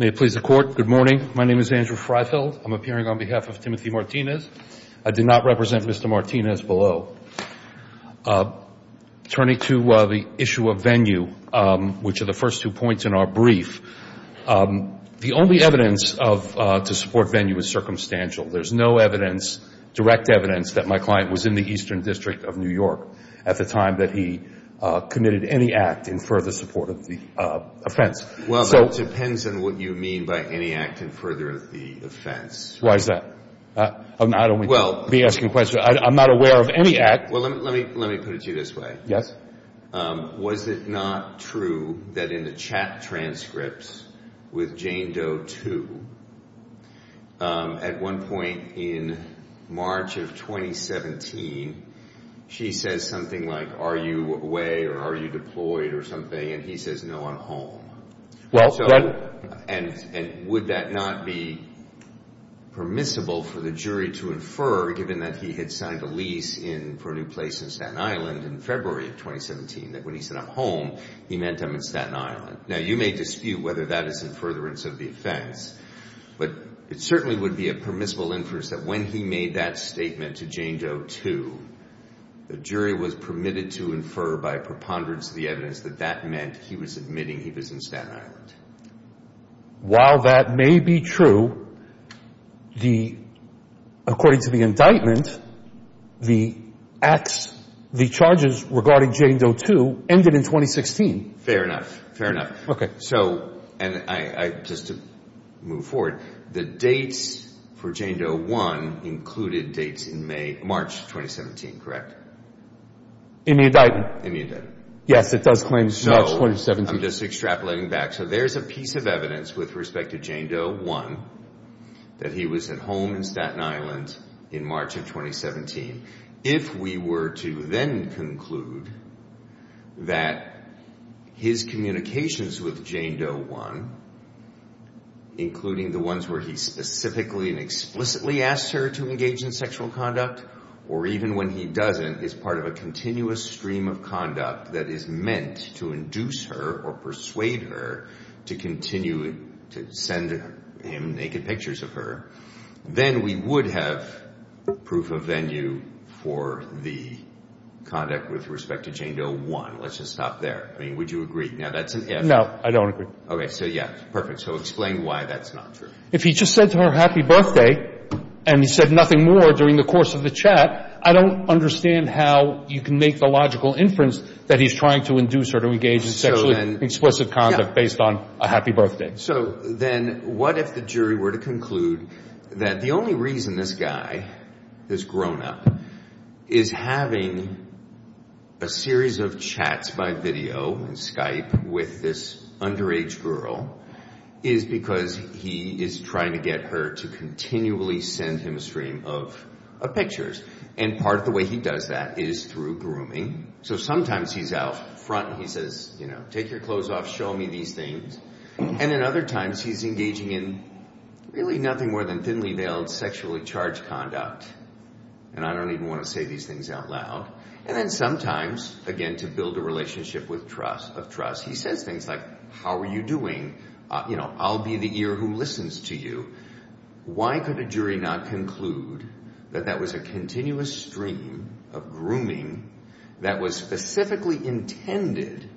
May it please the Court, good morning. My name is Andrew Freifeld. I'm appearing on behalf of Timothy Martinez. I did not represent Mr. Martinez below. Turning to the issue of venue, which are the first two points in our brief, the only evidence to support venue is circumstantial. There's no evidence, direct evidence, that my client was in the Eastern District of New York at the time that he committed any act in further support of the offense. Well, that depends on what you mean by any act in further of the offense. Why is that? I don't want to be asking questions. I'm not aware of any act. Well, let me put it to you this way. Yes. Was it not true that in the chat transcripts with Jane Doe, too, at one point in March of 2017, she says something like, Are you away or are you deployed or something? And he says, No, I'm home. And would that not be permissible for the jury to infer, given that he had signed a lease for a new place in Staten Island in February of 2017, that when he said, I'm home, he meant I'm in Staten Island? Now, you may dispute whether that is in furtherance of the offense, but it certainly would be a permissible inference that when he made that statement to Jane Doe, too, the jury was permitted to infer by preponderance of the evidence that that meant he was admitting he was in Staten Island. While that may be true, according to the indictment, the charges regarding Jane Doe, too, ended in 2016. Fair enough. Fair enough. Okay. And just to move forward, the dates for Jane Doe 1 included dates in March 2017, correct? In the indictment. In the indictment. Yes, it does claim March 2017. No, I'm just extrapolating back. So there's a piece of evidence with respect to Jane Doe 1 that he was at home in Staten Island in March of 2017. If we were to then conclude that his communications with Jane Doe 1, including the ones where he specifically and explicitly asked her to engage in sexual conduct, or even when he doesn't, is part of a continuous stream of conduct that is meant to induce her or persuade her to continue to send him naked pictures of her, then we would have proof of venue for the conduct with respect to Jane Doe 1. Let's just stop there. I mean, would you agree? Now, that's an if. No, I don't agree. Okay, so yeah, perfect. So explain why that's not true. If he just said to her happy birthday and he said nothing more during the course of the chat, I don't understand how you can make the logical inference that he's trying to induce her to engage in sexually explicit conduct based on a happy birthday. So then what if the jury were to conclude that the only reason this guy, this grownup, is having a series of chats by video and Skype with this underage girl is because he is trying to get her to continually send him a stream of pictures. And part of the way he does that is through grooming. So sometimes he's out front and he says, you know, take your clothes off, show me these things. And then other times he's engaging in really nothing more than thinly veiled sexually charged conduct. And I don't even want to say these things out loud. And then sometimes, again, to build a relationship of trust, he says things like, how are you doing? You know, I'll be the ear who listens to you. Why could a jury not conclude that that was a continuous stream of grooming that was specifically intended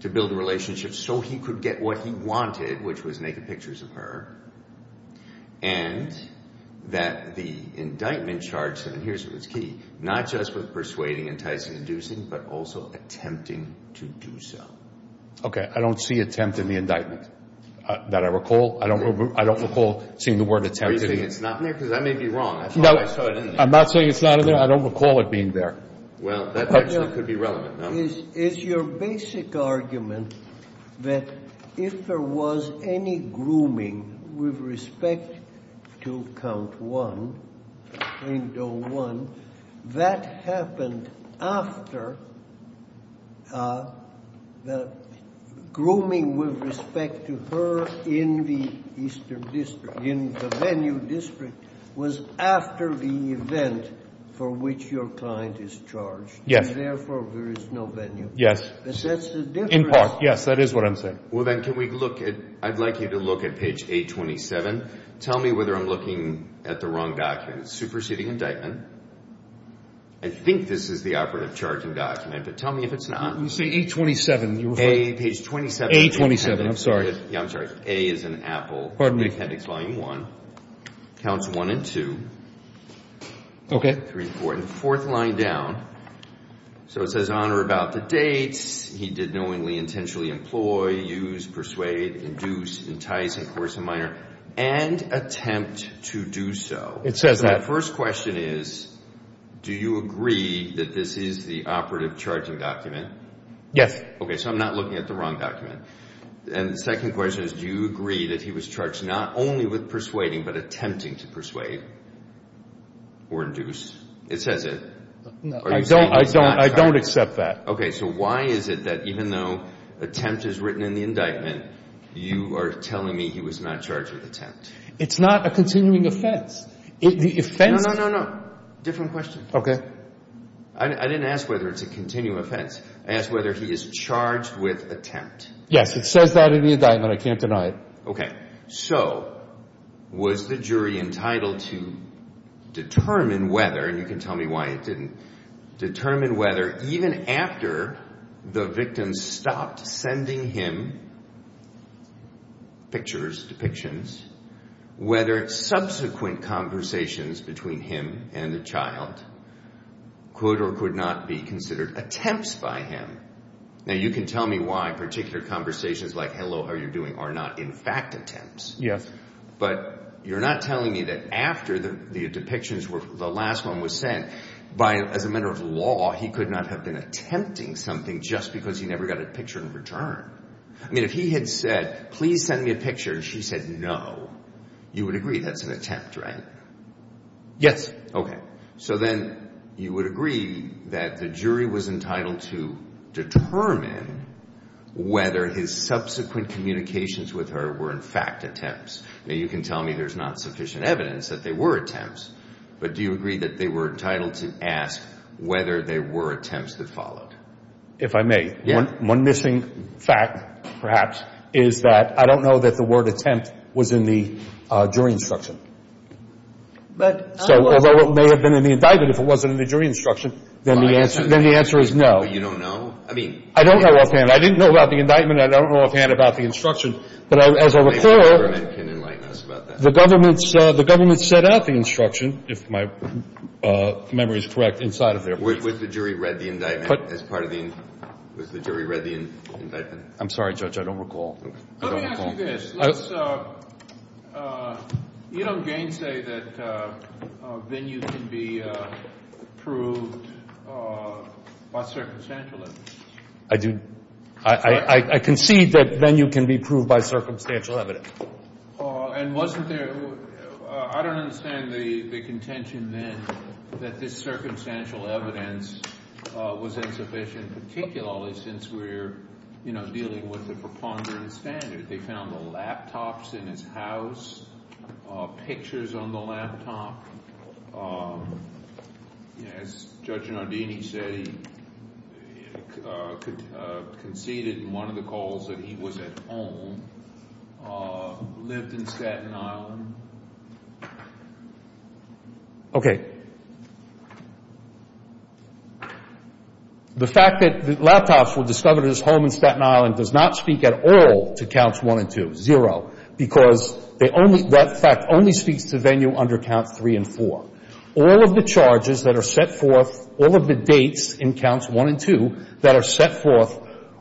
to build a relationship so he could get what he wanted, which was naked pictures of her, and that the indictment charged him, and here's what's key, not just with persuading, enticing, inducing, but also attempting to do so. Okay. I don't see attempt in the indictment. That I recall. I don't recall seeing the word attempt. Are you saying it's not in there? Because I may be wrong. I thought I saw it in there. I'm not saying it's not in there. I don't recall it being there. Well, that actually could be relevant. Is your basic argument that if there was any grooming with respect to count one, window one, that happened after the grooming with respect to her in the eastern district, in the venue district, was after the event for which your client is charged? Yes. And, therefore, there is no venue. Yes. But that's the difference. In part, yes. That is what I'm saying. Well, then, can we look at – I'd like you to look at page 827. Tell me whether I'm looking at the wrong document. It's a superseding indictment. I think this is the operative charging document, but tell me if it's not. You say 827. Page 27. 827. I'm sorry. Yeah, I'm sorry. A is in Apple. Pardon me. Appendix volume one. Counts one and two. Okay. One, two, three, four, and the fourth line down. So it says, honor about the dates. He did knowingly, intentionally employ, use, persuade, induce, entice, and coerce a minor, and attempt to do so. It says that. So the first question is, do you agree that this is the operative charging document? Yes. Okay. So I'm not looking at the wrong document. And the second question is, do you agree that he was charged not only with persuading, but or induce? It says it. I don't accept that. Okay. So why is it that even though attempt is written in the indictment, you are telling me he was not charged with attempt? It's not a continuing offense. No, no, no, no. Different question. Okay. I didn't ask whether it's a continuing offense. I asked whether he is charged with attempt. Yes. It says that in the indictment. I can't deny it. Okay. So was the jury entitled to determine whether, and you can tell me why it didn't, determine whether even after the victim stopped sending him pictures, depictions, whether subsequent conversations between him and the child could or could not be considered attempts by him? Now, you can tell me why particular conversations like, hello, how are you doing, are not in fact attempts. Yes. But you're not telling me that after the depictions, the last one was sent, as a matter of law, he could not have been attempting something just because he never got a picture in return. I mean, if he had said, please send me a picture, and she said no, you would agree that's an attempt, right? Yes. Okay. So then you would agree that the jury was entitled to determine whether his subsequent communications with her were in fact attempts. Now, you can tell me there's not sufficient evidence that they were attempts, but do you agree that they were entitled to ask whether they were attempts that followed? If I may. Yes. One missing fact, perhaps, is that I don't know that the word attempt was in the jury instruction. So although it may have been in the indictment, if it wasn't in the jury instruction, then the answer is no. You don't know? I don't know offhand. I didn't know about the indictment. I don't know offhand about the instruction. But as I recall, the government set out the instruction, if my memory is correct, inside of there. Was the jury read the indictment as part of the – was the jury read the indictment? I'm sorry, Judge. I don't recall. Let me ask you this. Let's – you don't gainsay that venue can be proved by circumstantial evidence. I do. I concede that venue can be proved by circumstantial evidence. And wasn't there – I don't understand the contention then that this circumstantial evidence was insufficient, particularly since we're dealing with the preponderance standard. They found the laptops in his house, pictures on the laptop. As Judge Nardini said, he conceded in one of the calls that he was at home, lived in Staten Island. Okay. The fact that the laptops were discovered at his home in Staten Island does not speak at all to counts one and two. Zero. Because they only – that fact only speaks to venue under count three and four. All of the charges that are set forth, all of the dates in counts one and two that are set forth,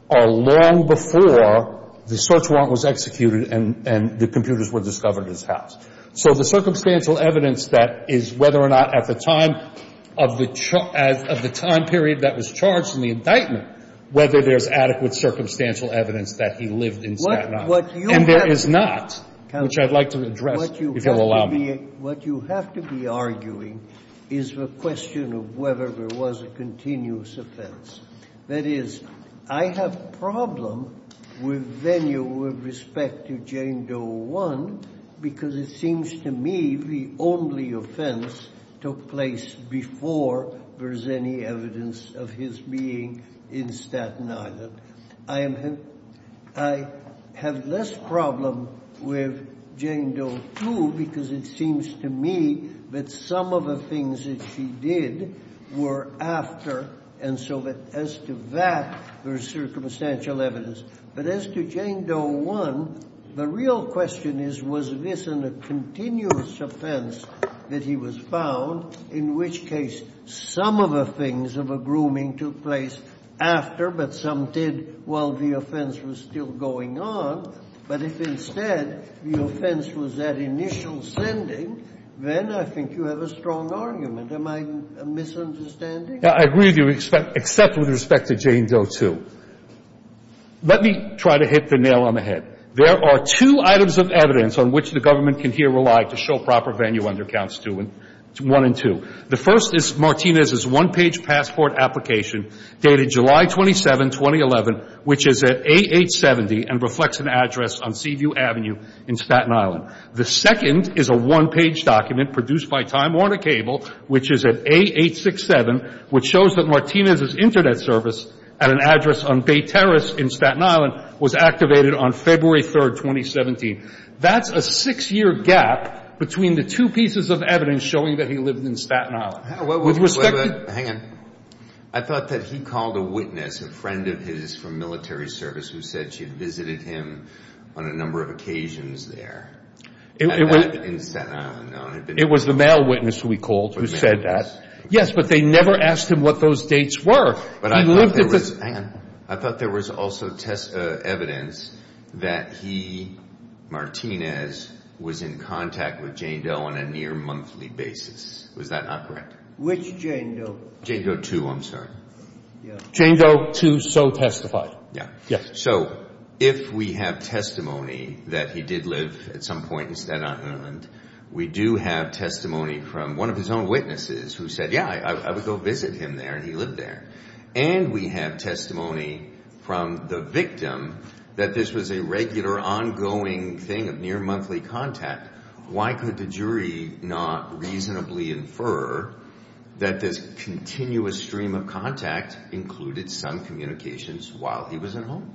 are long before the search warrant was executed and the computers were discovered at his house. So the circumstantial evidence that is whether or not at the time of the time period that was charged in the indictment, whether there's adequate circumstantial evidence that he lived in Staten Island. And there is not, which I'd like to address, if you'll allow me. What you have to be arguing is the question of whether there was a continuous offense. That is, I have problem with venue with respect to Jane Doe I because it seems to me the only offense took place before there's any evidence of his being in Staten Island. I have less problem with Jane Doe II because it seems to me that some of the things that she did were after. And so as to that, there's circumstantial evidence. But as to Jane Doe I, the real question is was this a continuous offense that he was found, in which case some of the things of a grooming took place after, but some did while the offense was still going on. But if instead the offense was that initial sending, then I think you have a strong argument. Am I misunderstanding? I agree with you, except with respect to Jane Doe II. Let me try to hit the nail on the head. There are two items of evidence on which the government can here rely to show proper venue under Counts 1 and 2. The first is Martinez's one-page passport application dated July 27, 2011, which is at A870 and reflects an address on Seaview Avenue in Staten Island. The second is a one-page document produced by Time Warner Cable, which is at A867, which shows that Martinez's Internet service at an address on Bay Terrace in Staten Island was activated on February 3, 2017. That's a six-year gap between the two pieces of evidence showing that he lived in Staten Island. Hang on. I thought that he called a witness, a friend of his from military service, who said she visited him on a number of occasions there in Staten Island. It was the male witness who he called who said that. Yes, but they never asked him what those dates were. Hang on. I thought there was also evidence that he, Martinez, was in contact with Jane Doe on a near monthly basis. Was that not correct? Which Jane Doe? Jane Doe II, I'm sorry. Jane Doe II so testified. Yes. So if we have testimony that he did live at some point in Staten Island, we do have testimony from one of his own witnesses who said, yeah, I would go visit him there, and he lived there. And we have testimony from the victim that this was a regular, ongoing thing of near monthly contact. Why could the jury not reasonably infer that this continuous stream of contact included some communications while he was at home?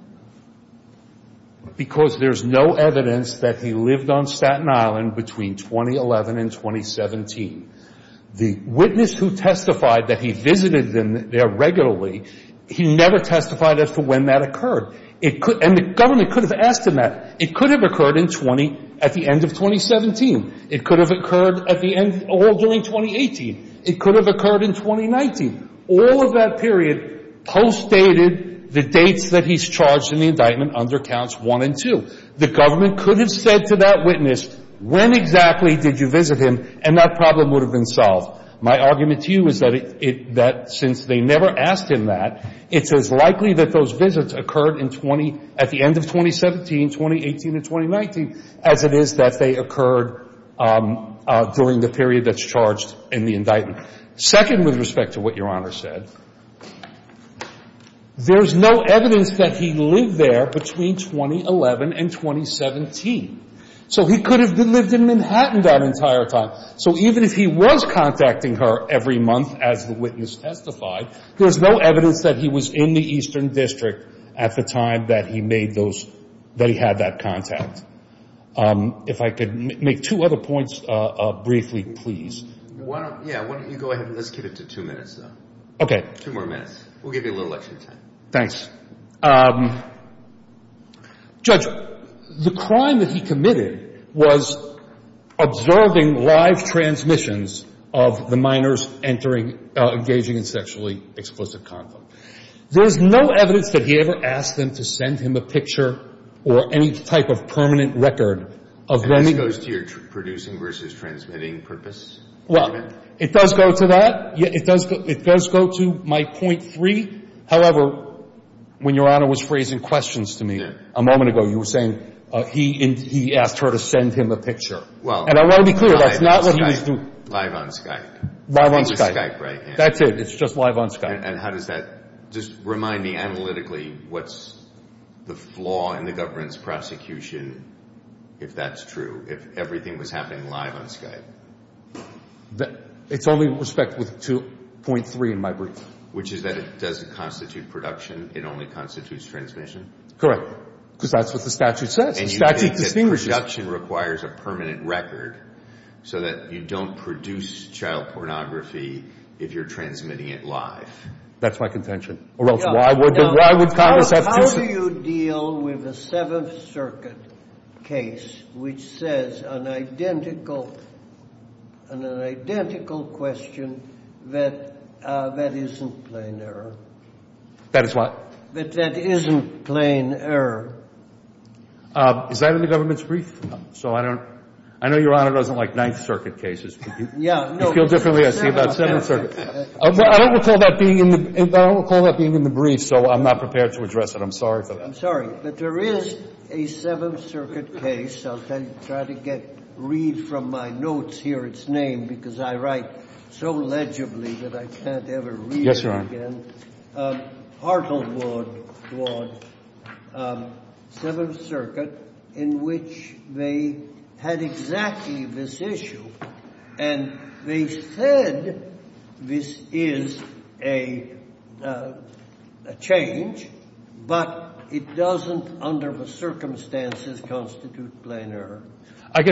Because there's no evidence that he lived on Staten Island between 2011 and 2017. The witness who testified that he visited them there regularly, he never testified as to when that occurred. And the government could have asked him that. It could have occurred at the end of 2017. It could have occurred all during 2018. It could have occurred in 2019. All of that period postdated the dates that he's charged in the indictment under counts one and two. The government could have said to that witness, when exactly did you visit him, and that problem would have been solved. My argument to you is that since they never asked him that, it's as likely that those visits occurred at the end of 2017, 2018, and 2019, as it is that they occurred during the period that's charged in the indictment. Second, with respect to what Your Honor said, there's no evidence that he lived there between 2011 and 2017. So he could have lived in Manhattan that entire time. So even if he was contacting her every month as the witness testified, there's no evidence that he was in the Eastern District at the time that he had that contact. If I could make two other points briefly, please. Yeah, why don't you go ahead and let's get it to two minutes, though. Okay. Two more minutes. We'll give you a little extra time. Thanks. Judge, the crime that he committed was observing live transmissions of the minors engaging in sexually explicit conflict. There's no evidence that he ever asked them to send him a picture or any type of permanent record of them. This goes to your producing versus transmitting purpose? Well, it does go to that. It does go to my point three. However, when Your Honor was phrasing questions to me a moment ago, you were saying he asked her to send him a picture. And I want to be clear, that's not what he was doing. Well, live on Skype. He was Skype, right? That's it. It's just live on Skype. And how does that – just remind me analytically what's the flaw in the government's prosecution if that's true, if everything was happening live on Skype? It's only with respect to point three in my brief. Which is that it doesn't constitute production. It only constitutes transmission? Correct. Because that's what the statute says. The statute distinguishes. Production requires a permanent record so that you don't produce child pornography if you're transmitting it live. That's my contention. Or else why would Congress have to – How do you deal with a Seventh Circuit case which says on an identical question that that isn't plain error? That is what? That that isn't plain error. Is that in the government's brief? So I don't – I know Your Honor doesn't like Ninth Circuit cases. Yeah, no. I feel differently. I see about Seventh Circuit. I don't recall that being in the – I don't recall that being in the brief, so I'm not prepared to address it. I'm sorry. I'm sorry. But there is a Seventh Circuit case. I'll try to get – read from my notes here its name because I write so legibly that I can't ever read it again. Arnold Ward, Seventh Circuit, in which they had exactly this issue, and they said this is a change, but it doesn't under the circumstances constitute plain error. I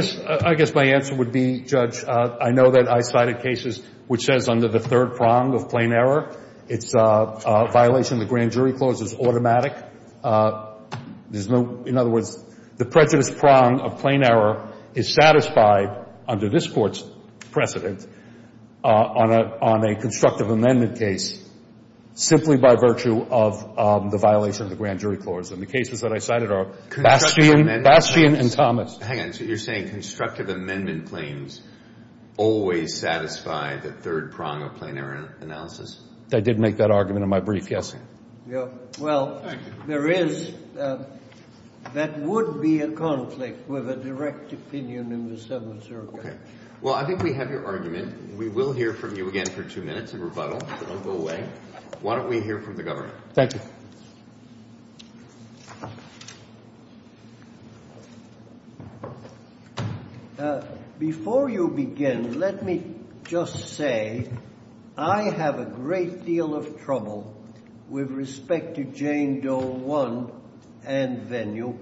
guess my answer would be, Judge, I know that I cited cases which says under the third prong of plain error, it's a violation of the Grand Jury Clause is automatic. There's no – in other words, the prejudice prong of plain error is satisfied under this Court's precedent on a constructive amendment case simply by virtue of the violation of the Grand Jury Clause. And the cases that I cited are Bastian and Thomas. Hang on. So you're saying constructive amendment claims always satisfy the third prong of plain error analysis? I did make that argument in my brief, yes. Well, there is – that would be a conflict with a direct opinion in the Seventh Circuit. Okay. Well, I think we have your argument. We will hear from you again for two minutes of rebuttal. Don't go away. Why don't we hear from the government? Thank you. Before you begin, let me just say I have a great deal of trouble with respect to Jane Doe 1 and Venue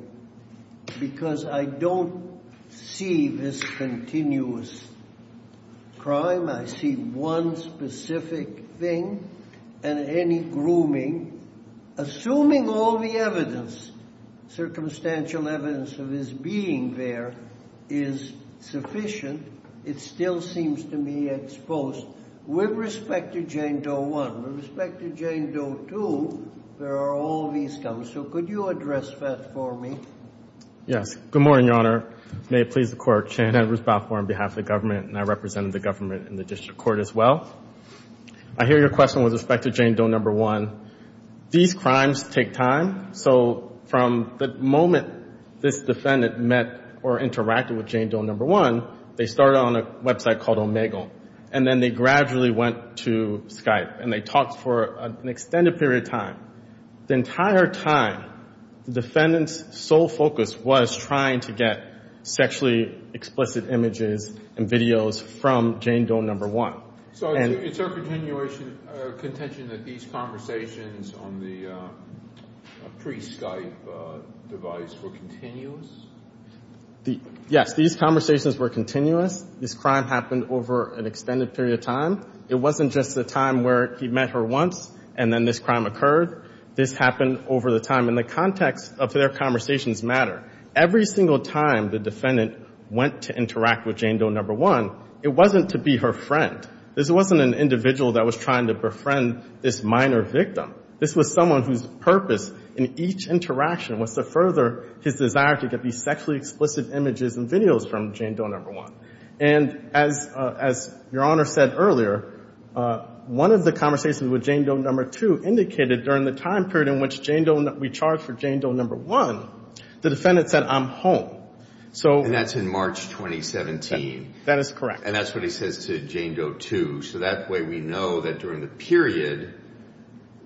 because I don't see this continuous crime. I see one specific thing and any grooming. Assuming all the evidence, circumstantial evidence, of his being there is sufficient, it still seems to me exposed. With respect to Jane Doe 1, with respect to Jane Doe 2, there are all these counts. So could you address that for me? Yes. Good morning, Your Honor. May it please the Court. Shane Edwards Balfour on behalf of the government and I represent the government in the district court as well. I hear your question with respect to Jane Doe 1. These crimes take time. So from the moment this defendant met or interacted with Jane Doe 1, they started on a website called Omegle. And then they gradually went to Skype and they talked for an extended period of time. The entire time, the defendant's sole focus was trying to get sexually explicit images and videos from Jane Doe 1. So it's her contention that these conversations on the pre-Skype device were continuous? Yes. These conversations were continuous. This crime happened over an extended period of time. It wasn't just the time where he met her once and then this crime occurred. This happened over the time in the context of their conversations matter. Every single time the defendant went to interact with Jane Doe 1, it wasn't to be her friend. This wasn't an individual that was trying to befriend this minor victim. This was someone whose purpose in each interaction was to further his desire to get these sexually explicit images and videos from Jane Doe 1. And as Your Honor said earlier, one of the conversations with Jane Doe 2 indicated during the time period in which we charged for Jane Doe 1, the defendant said, I'm home. And that's in March 2017. That is correct. And that's what he says to Jane Doe 2. So that way we know that during the period,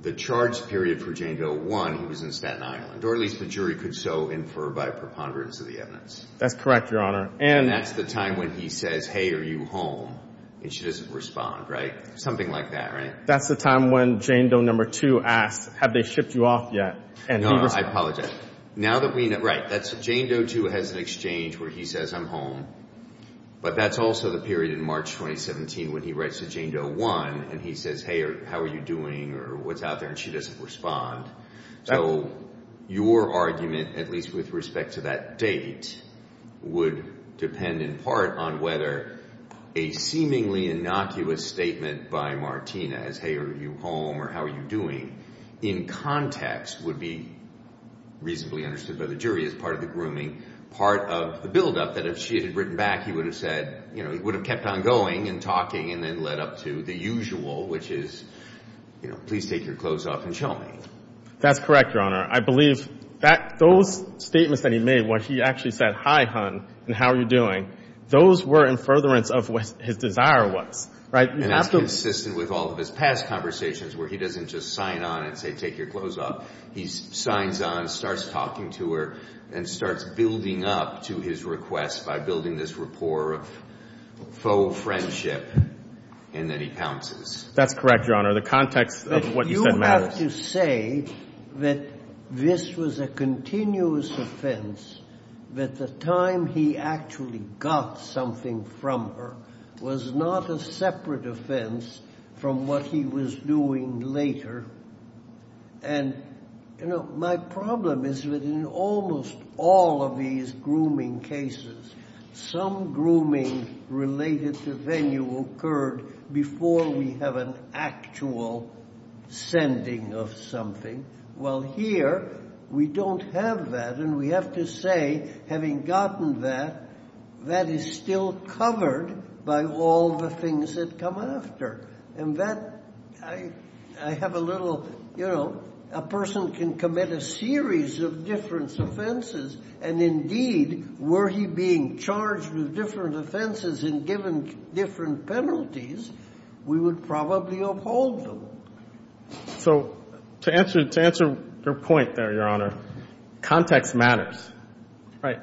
the charge period for Jane Doe 1, he was in Staten Island. Or at least the jury could so infer by preponderance of the evidence. That's correct, Your Honor. And that's the time when he says, hey, are you home? And she doesn't respond, right? Something like that, right? That's the time when Jane Doe 2 asked, have they shipped you off yet? No, I apologize. Now that we know, right, Jane Doe 2 has an exchange where he says, I'm home. But that's also the period in March 2017 when he writes to Jane Doe 1 and he says, hey, how are you doing? Or what's out there? And she doesn't respond. So your argument, at least with respect to that date, would depend in part on whether a seemingly innocuous statement by Martinez, hey, are you home or how are you doing, in context would be reasonably understood by the jury as part of the grooming, part of the buildup that if she had written back, he would have said, you know, That's correct, Your Honor. I believe those statements that he made where he actually said, hi, hon, and how are you doing, those were in furtherance of what his desire was, right? And that's consistent with all of his past conversations where he doesn't just sign on and say, take your clothes off. He signs on, starts talking to her, and starts building up to his request by building this rapport of faux friendship, and then he pounces. That's correct, Your Honor. The context of what you said matters. I have to say that this was a continuous offense, that the time he actually got something from her was not a separate offense from what he was doing later. And, you know, my problem is that in almost all of these grooming cases, some grooming related to venue occurred before we have an actual sending of something. Well, here, we don't have that, and we have to say, having gotten that, that is still covered by all the things that come after. And that, I have a little, you know, a person can commit a series of different offenses, and indeed, were he being charged with different offenses and given different penalties, we would probably uphold them. So to answer your point there, Your Honor, context matters.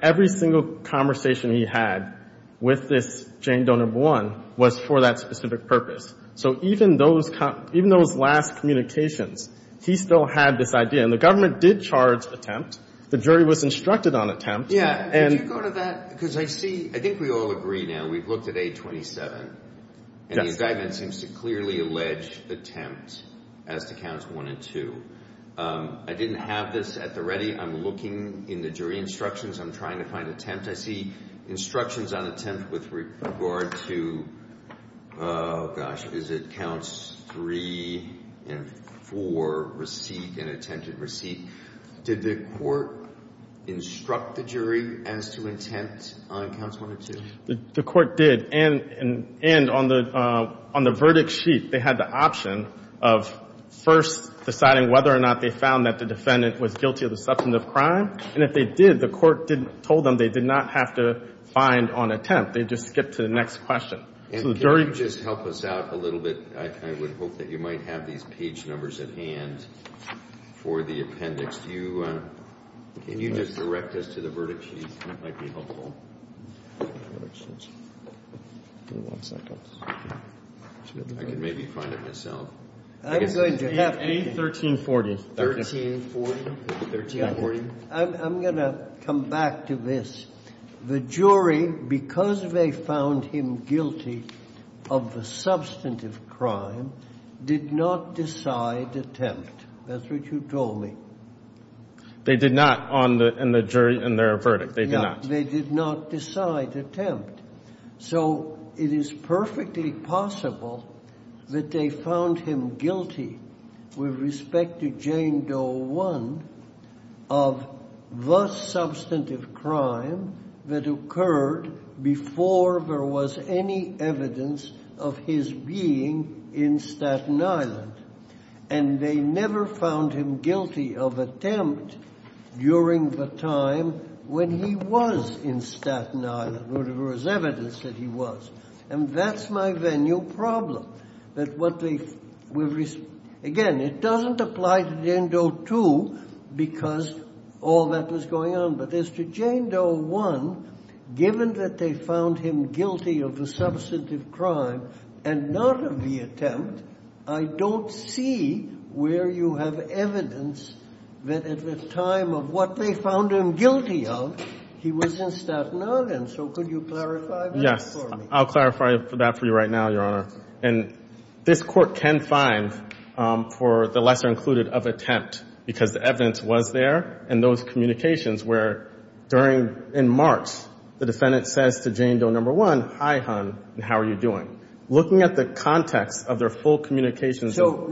Every single conversation he had with this Jane Doe number one was for that specific purpose. So even those last communications, he still had this idea. And the government did charge attempt. The jury was instructed on attempt. Yeah. Could you go to that? Because I see, I think we all agree now, we've looked at 827. Yes. And the indictment seems to clearly allege attempt as to counts one and two. I didn't have this at the ready. I'm looking in the jury instructions. I'm trying to find attempt. I see instructions on attempt with regard to, oh, gosh, is it counts three and four, receipt and attempted receipt. Did the court instruct the jury as to intent on counts one and two? The court did. And on the verdict sheet, they had the option of first deciding whether or not they found that the defendant was guilty of the substantive crime. And if they did, the court told them they did not have to find on attempt. They just skipped to the next question. And can you just help us out a little bit? I would hope that you might have these page numbers at hand for the appendix. Can you just direct us to the verdict sheet? That might be helpful. Verdict sheet. Give me one second. I can maybe find it myself. I'm going to have to. A1340. A1340. A1340. I'm going to come back to this. The jury, because they found him guilty of the substantive crime, did not decide attempt. That's what you told me. They did not on the jury in their verdict. They did not. They did not decide attempt. So it is perfectly possible that they found him guilty with respect to Jane Doe I of the substantive crime that occurred before there was any evidence of his being in Staten Island. And they never found him guilty of attempt during the time when he was in Staten Island. There was evidence that he was. And that's my venue problem. Again, it doesn't apply to Jane Doe II because all that was going on. But as to Jane Doe I, given that they found him guilty of the substantive crime and not of the attempt, I don't see where you have evidence that at the time of what they found him guilty of, he was in Staten Island. So could you clarify that for me? I'll clarify that for you right now, Your Honor. And this Court can find, for the lesser included, of attempt because the evidence was there and those communications were during, in March, the defendant says to Jane Doe I, hi, hon, how are you doing? Looking at the context of their full communications with the —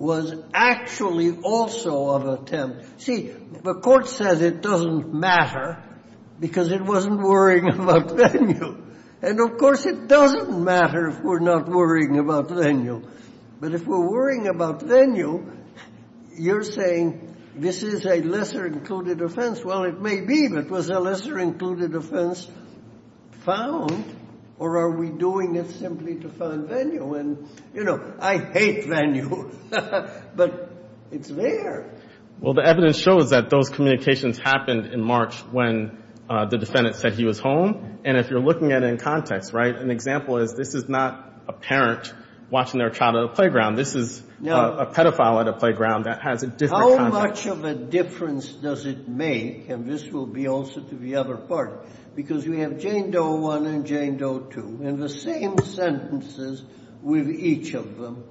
was actually also of attempt. See, the Court says it doesn't matter because it wasn't worrying about venue. And, of course, it doesn't matter if we're not worrying about venue. But if we're worrying about venue, you're saying this is a lesser included offense. Well, it may be, but was a lesser included offense found or are we doing it simply to find venue? And, you know, I hate venue, but it's there. Well, the evidence shows that those communications happened in March when the defendant said he was home. And if you're looking at it in context, right, an example is this is not a parent watching their child at a playground. This is a pedophile at a playground that has a different context. How much of a difference does it make, and this will be also to the other part, because we have Jane Doe I and Jane Doe II, and the same sentences with each of them.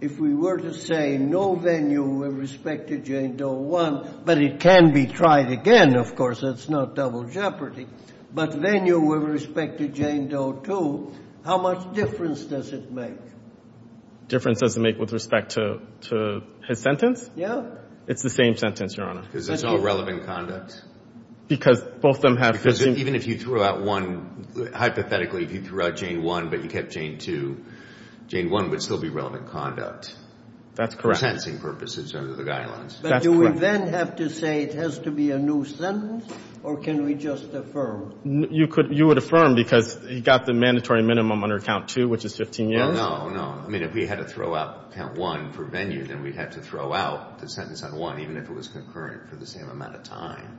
If we were to say no venue with respect to Jane Doe I, but it can be tried again, of course, it's not double jeopardy, but venue with respect to Jane Doe II, how much difference does it make? Difference does it make with respect to his sentence? Yeah. It's the same sentence, Your Honor. Because it's all relevant conduct? Because both of them have the same. Because even if you threw out one, hypothetically, if you threw out Jane I but you kept Jane II, Jane I would still be relevant conduct. That's correct. For sentencing purposes under the guidelines. That's correct. But do we then have to say it has to be a new sentence, or can we just affirm? You would affirm because he got the mandatory minimum under Count II, which is 15 years. No, no, no. I mean, if we had to throw out Count I for venue, then we'd have to throw out the sentence on I, even if it was concurrent for the same amount of time.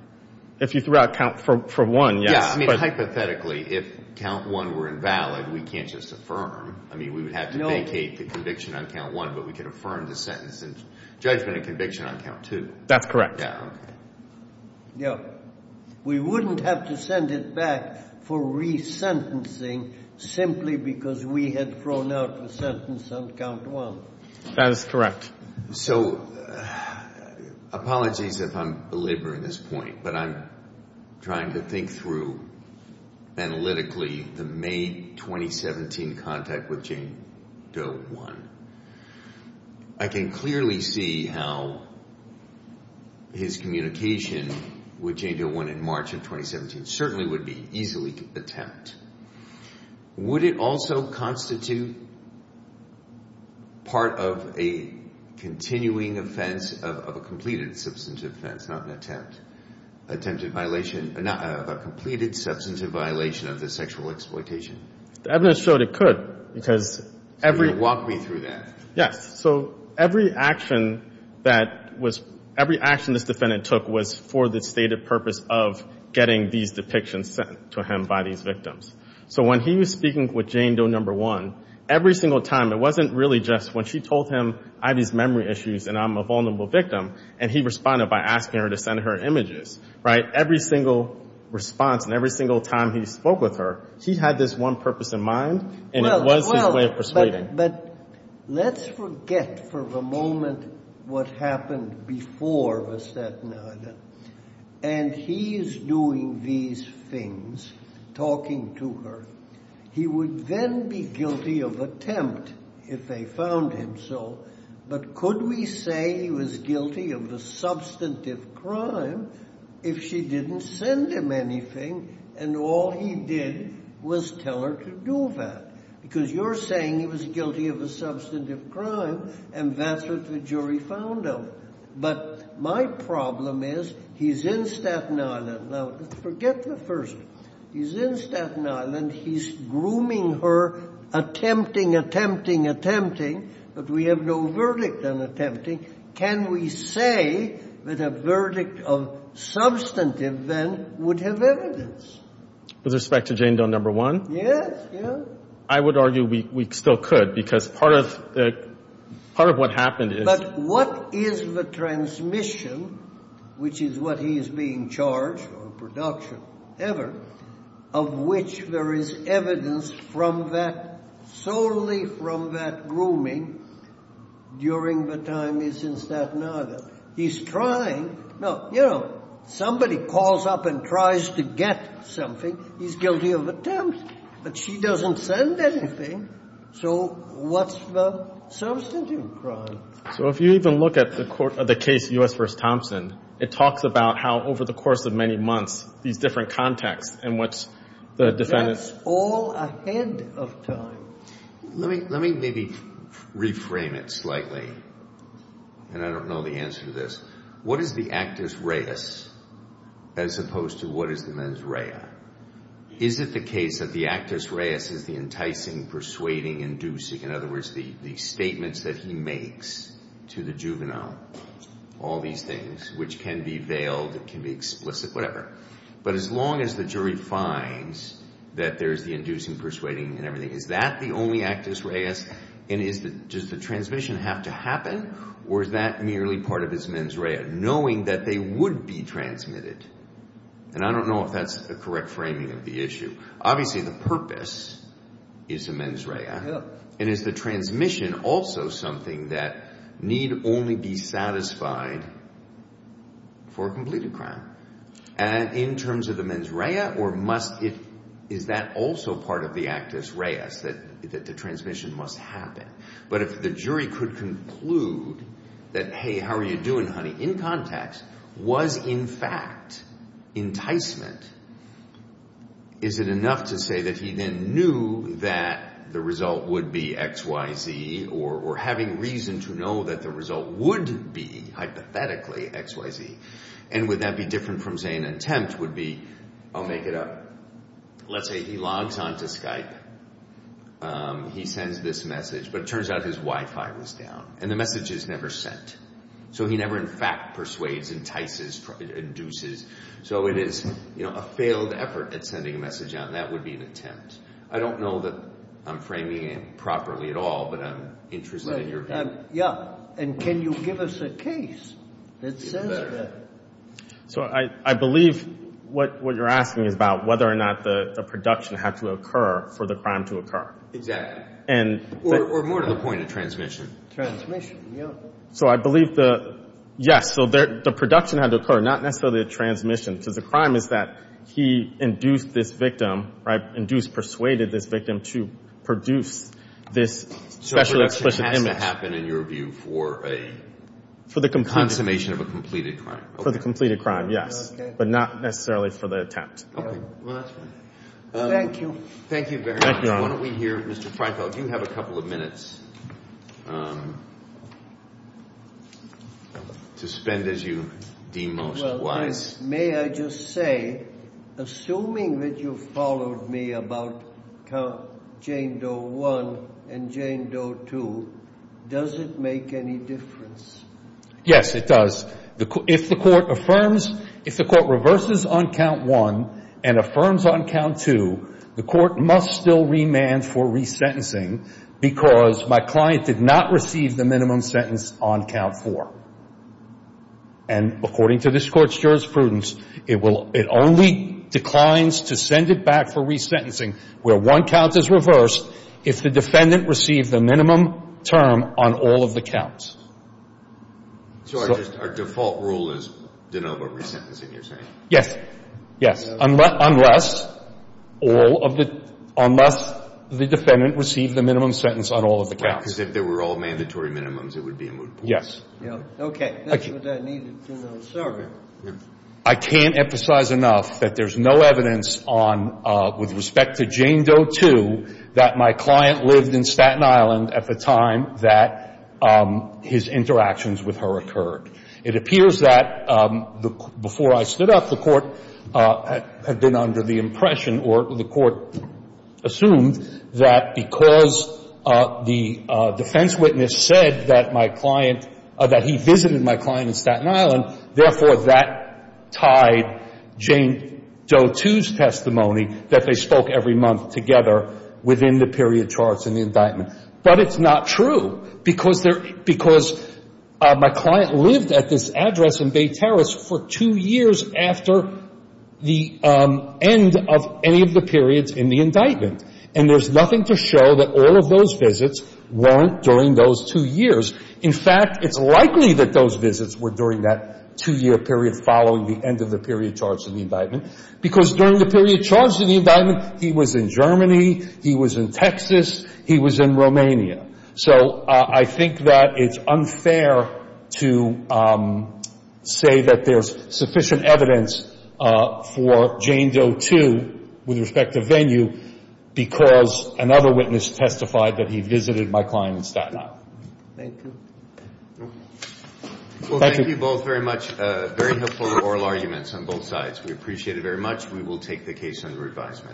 If you threw out Count for I, yes. Yeah, I mean, hypothetically, if Count I were invalid, we can't just affirm. I mean, we would have to vacate the conviction on Count I, but we could affirm the sentence and judgment and conviction on Count II. That's correct. Yeah, okay. We wouldn't have to send it back for resentencing simply because we had thrown out the sentence on Count I. That is correct. So apologies if I'm belaboring this point, but I'm trying to think through analytically the May 2017 contact with Jane Doe I. I can clearly see how his communication with Jane Doe I in March of 2017 certainly would be easily attempt. Would it also constitute part of a continuing offense of a completed substantive offense, not an attempt? Attempted violation of a completed substantive violation of the sexual exploitation? The evidence showed it could because every— Walk me through that. So every action this defendant took was for the stated purpose of getting these depictions sent to him by these victims. So when he was speaking with Jane Doe I, every single time, it wasn't really just when she told him, I have these memory issues and I'm a vulnerable victim, and he responded by asking her to send her images. Right? Every single response and every single time he spoke with her, she had this one purpose in mind and it was his way of persuading. Well, but let's forget for the moment what happened before Miss Staten Island, and he's doing these things, talking to her. He would then be guilty of attempt if they found him so, but could we say he was guilty of the substantive crime if she didn't send him anything and all he did was tell her to do that? Because you're saying he was guilty of a substantive crime and that's what the jury found him. But my problem is he's in Staten Island. Now, forget the first. He's in Staten Island. He's grooming her, attempting, attempting, attempting, but we have no verdict on attempting. Can we say that a verdict of substantive then would have evidence? With respect to Jane Doe No. 1? Yes, yes. I would argue we still could because part of what happened is— But what is the transmission, which is what he is being charged for production ever, of which there is evidence solely from that grooming during the time he's in Staten Island? He's trying. Now, you know, somebody calls up and tries to get something, he's guilty of attempt, but she doesn't send anything, so what's the substantive crime? So if you even look at the case U.S. v. Thompson, it talks about how over the course of many months these different contexts in which the defendant— But that's all ahead of time. Let me maybe reframe it slightly, and I don't know the answer to this. What is the actus reus as opposed to what is the mens rea? Is it the case that the actus reus is the enticing, persuading, inducing, in other words, the statements that he makes to the juvenile, all these things, which can be veiled, can be explicit, whatever, but as long as the jury finds that there is the inducing, persuading, and everything, is that the only actus reus, and does the transmission have to happen, or is that merely part of his mens rea, knowing that they would be transmitted? And I don't know if that's the correct framing of the issue. Obviously, the purpose is the mens rea, and is the transmission also something that need only be satisfied for a completed crime? And in terms of the mens rea, or must it—is that also part of the actus reus, that the transmission must happen? But if the jury could conclude that, hey, how are you doing, honey, in context, was, in fact, enticement, is it enough to say that he then knew that the result would be X, Y, Z, or having reason to know that the result would be, hypothetically, X, Y, Z, and would that be different from, say, an attempt, would be, I'll make it up. Let's say he logs on to Skype. He sends this message, but it turns out his Wi-Fi was down, and the message is never sent. So he never, in fact, persuades, entices, induces. So it is a failed effort at sending a message out, and that would be an attempt. I don't know that I'm framing it properly at all, but I'm interested in your opinion. Yeah, and can you give us a case that says that? So I believe what you're asking is about whether or not the production had to occur for the crime to occur. Exactly. Or more to the point of transmission. Transmission, yeah. So I believe the, yes, so the production had to occur, not necessarily the transmission, because the crime is that he induced this victim, right, induced, persuaded this victim to produce this specially explicit image. So production has to happen, in your view, for a consummation of a completed crime. For the completed crime, yes, but not necessarily for the attempt. Okay. Well, that's fine. Thank you. Thank you very much. Thank you, Your Honor. While we hear, Mr. Freifeld, you have a couple of minutes to spend as you deem most wise. May I just say, assuming that you followed me about Count Jane Doe 1 and Jane Doe 2, does it make any difference? Yes, it does. If the court affirms, if the court reverses on Count 1 and affirms on Count 2, the court must still remand for resentencing, because my client did not receive the minimum sentence on Count 4. And according to this Court's jurisprudence, it only declines to send it back for resentencing where one count is reversed if the defendant received the minimum term on all of the counts. So our default rule is de novo resentencing, you're saying? Yes. Yes, unless the defendant received the minimum sentence on all of the counts. Because if they were all mandatory minimums, it would be a moot point. Yes. Okay. That's what I needed to know. Sorry. I can't emphasize enough that there's no evidence on, with respect to Jane Doe 2, that my client lived in Staten Island at the time that his interactions with her occurred. It appears that before I stood up, the court had been under the impression, or the court assumed that because the defense witness said that my client, that he visited my client in Staten Island, therefore that tied Jane Doe 2's testimony, that they spoke every month together within the period charged in the indictment. But it's not true, because my client lived at this address in Bay Terrace for two years after the end of any of the periods in the indictment. And there's nothing to show that all of those visits weren't during those two years. In fact, it's likely that those visits were during that two-year period following the end of the period charged in the indictment, because during the period charged in the indictment, he was in Germany, he was in Texas, he was in Romania. So I think that it's unfair to say that there's sufficient evidence for Jane Doe 2, with respect to venue, because another witness testified that he visited my client in Staten Island. Thank you. Well, thank you both very much. Very helpful oral arguments on both sides. We appreciate it very much. We will take the case under advisement.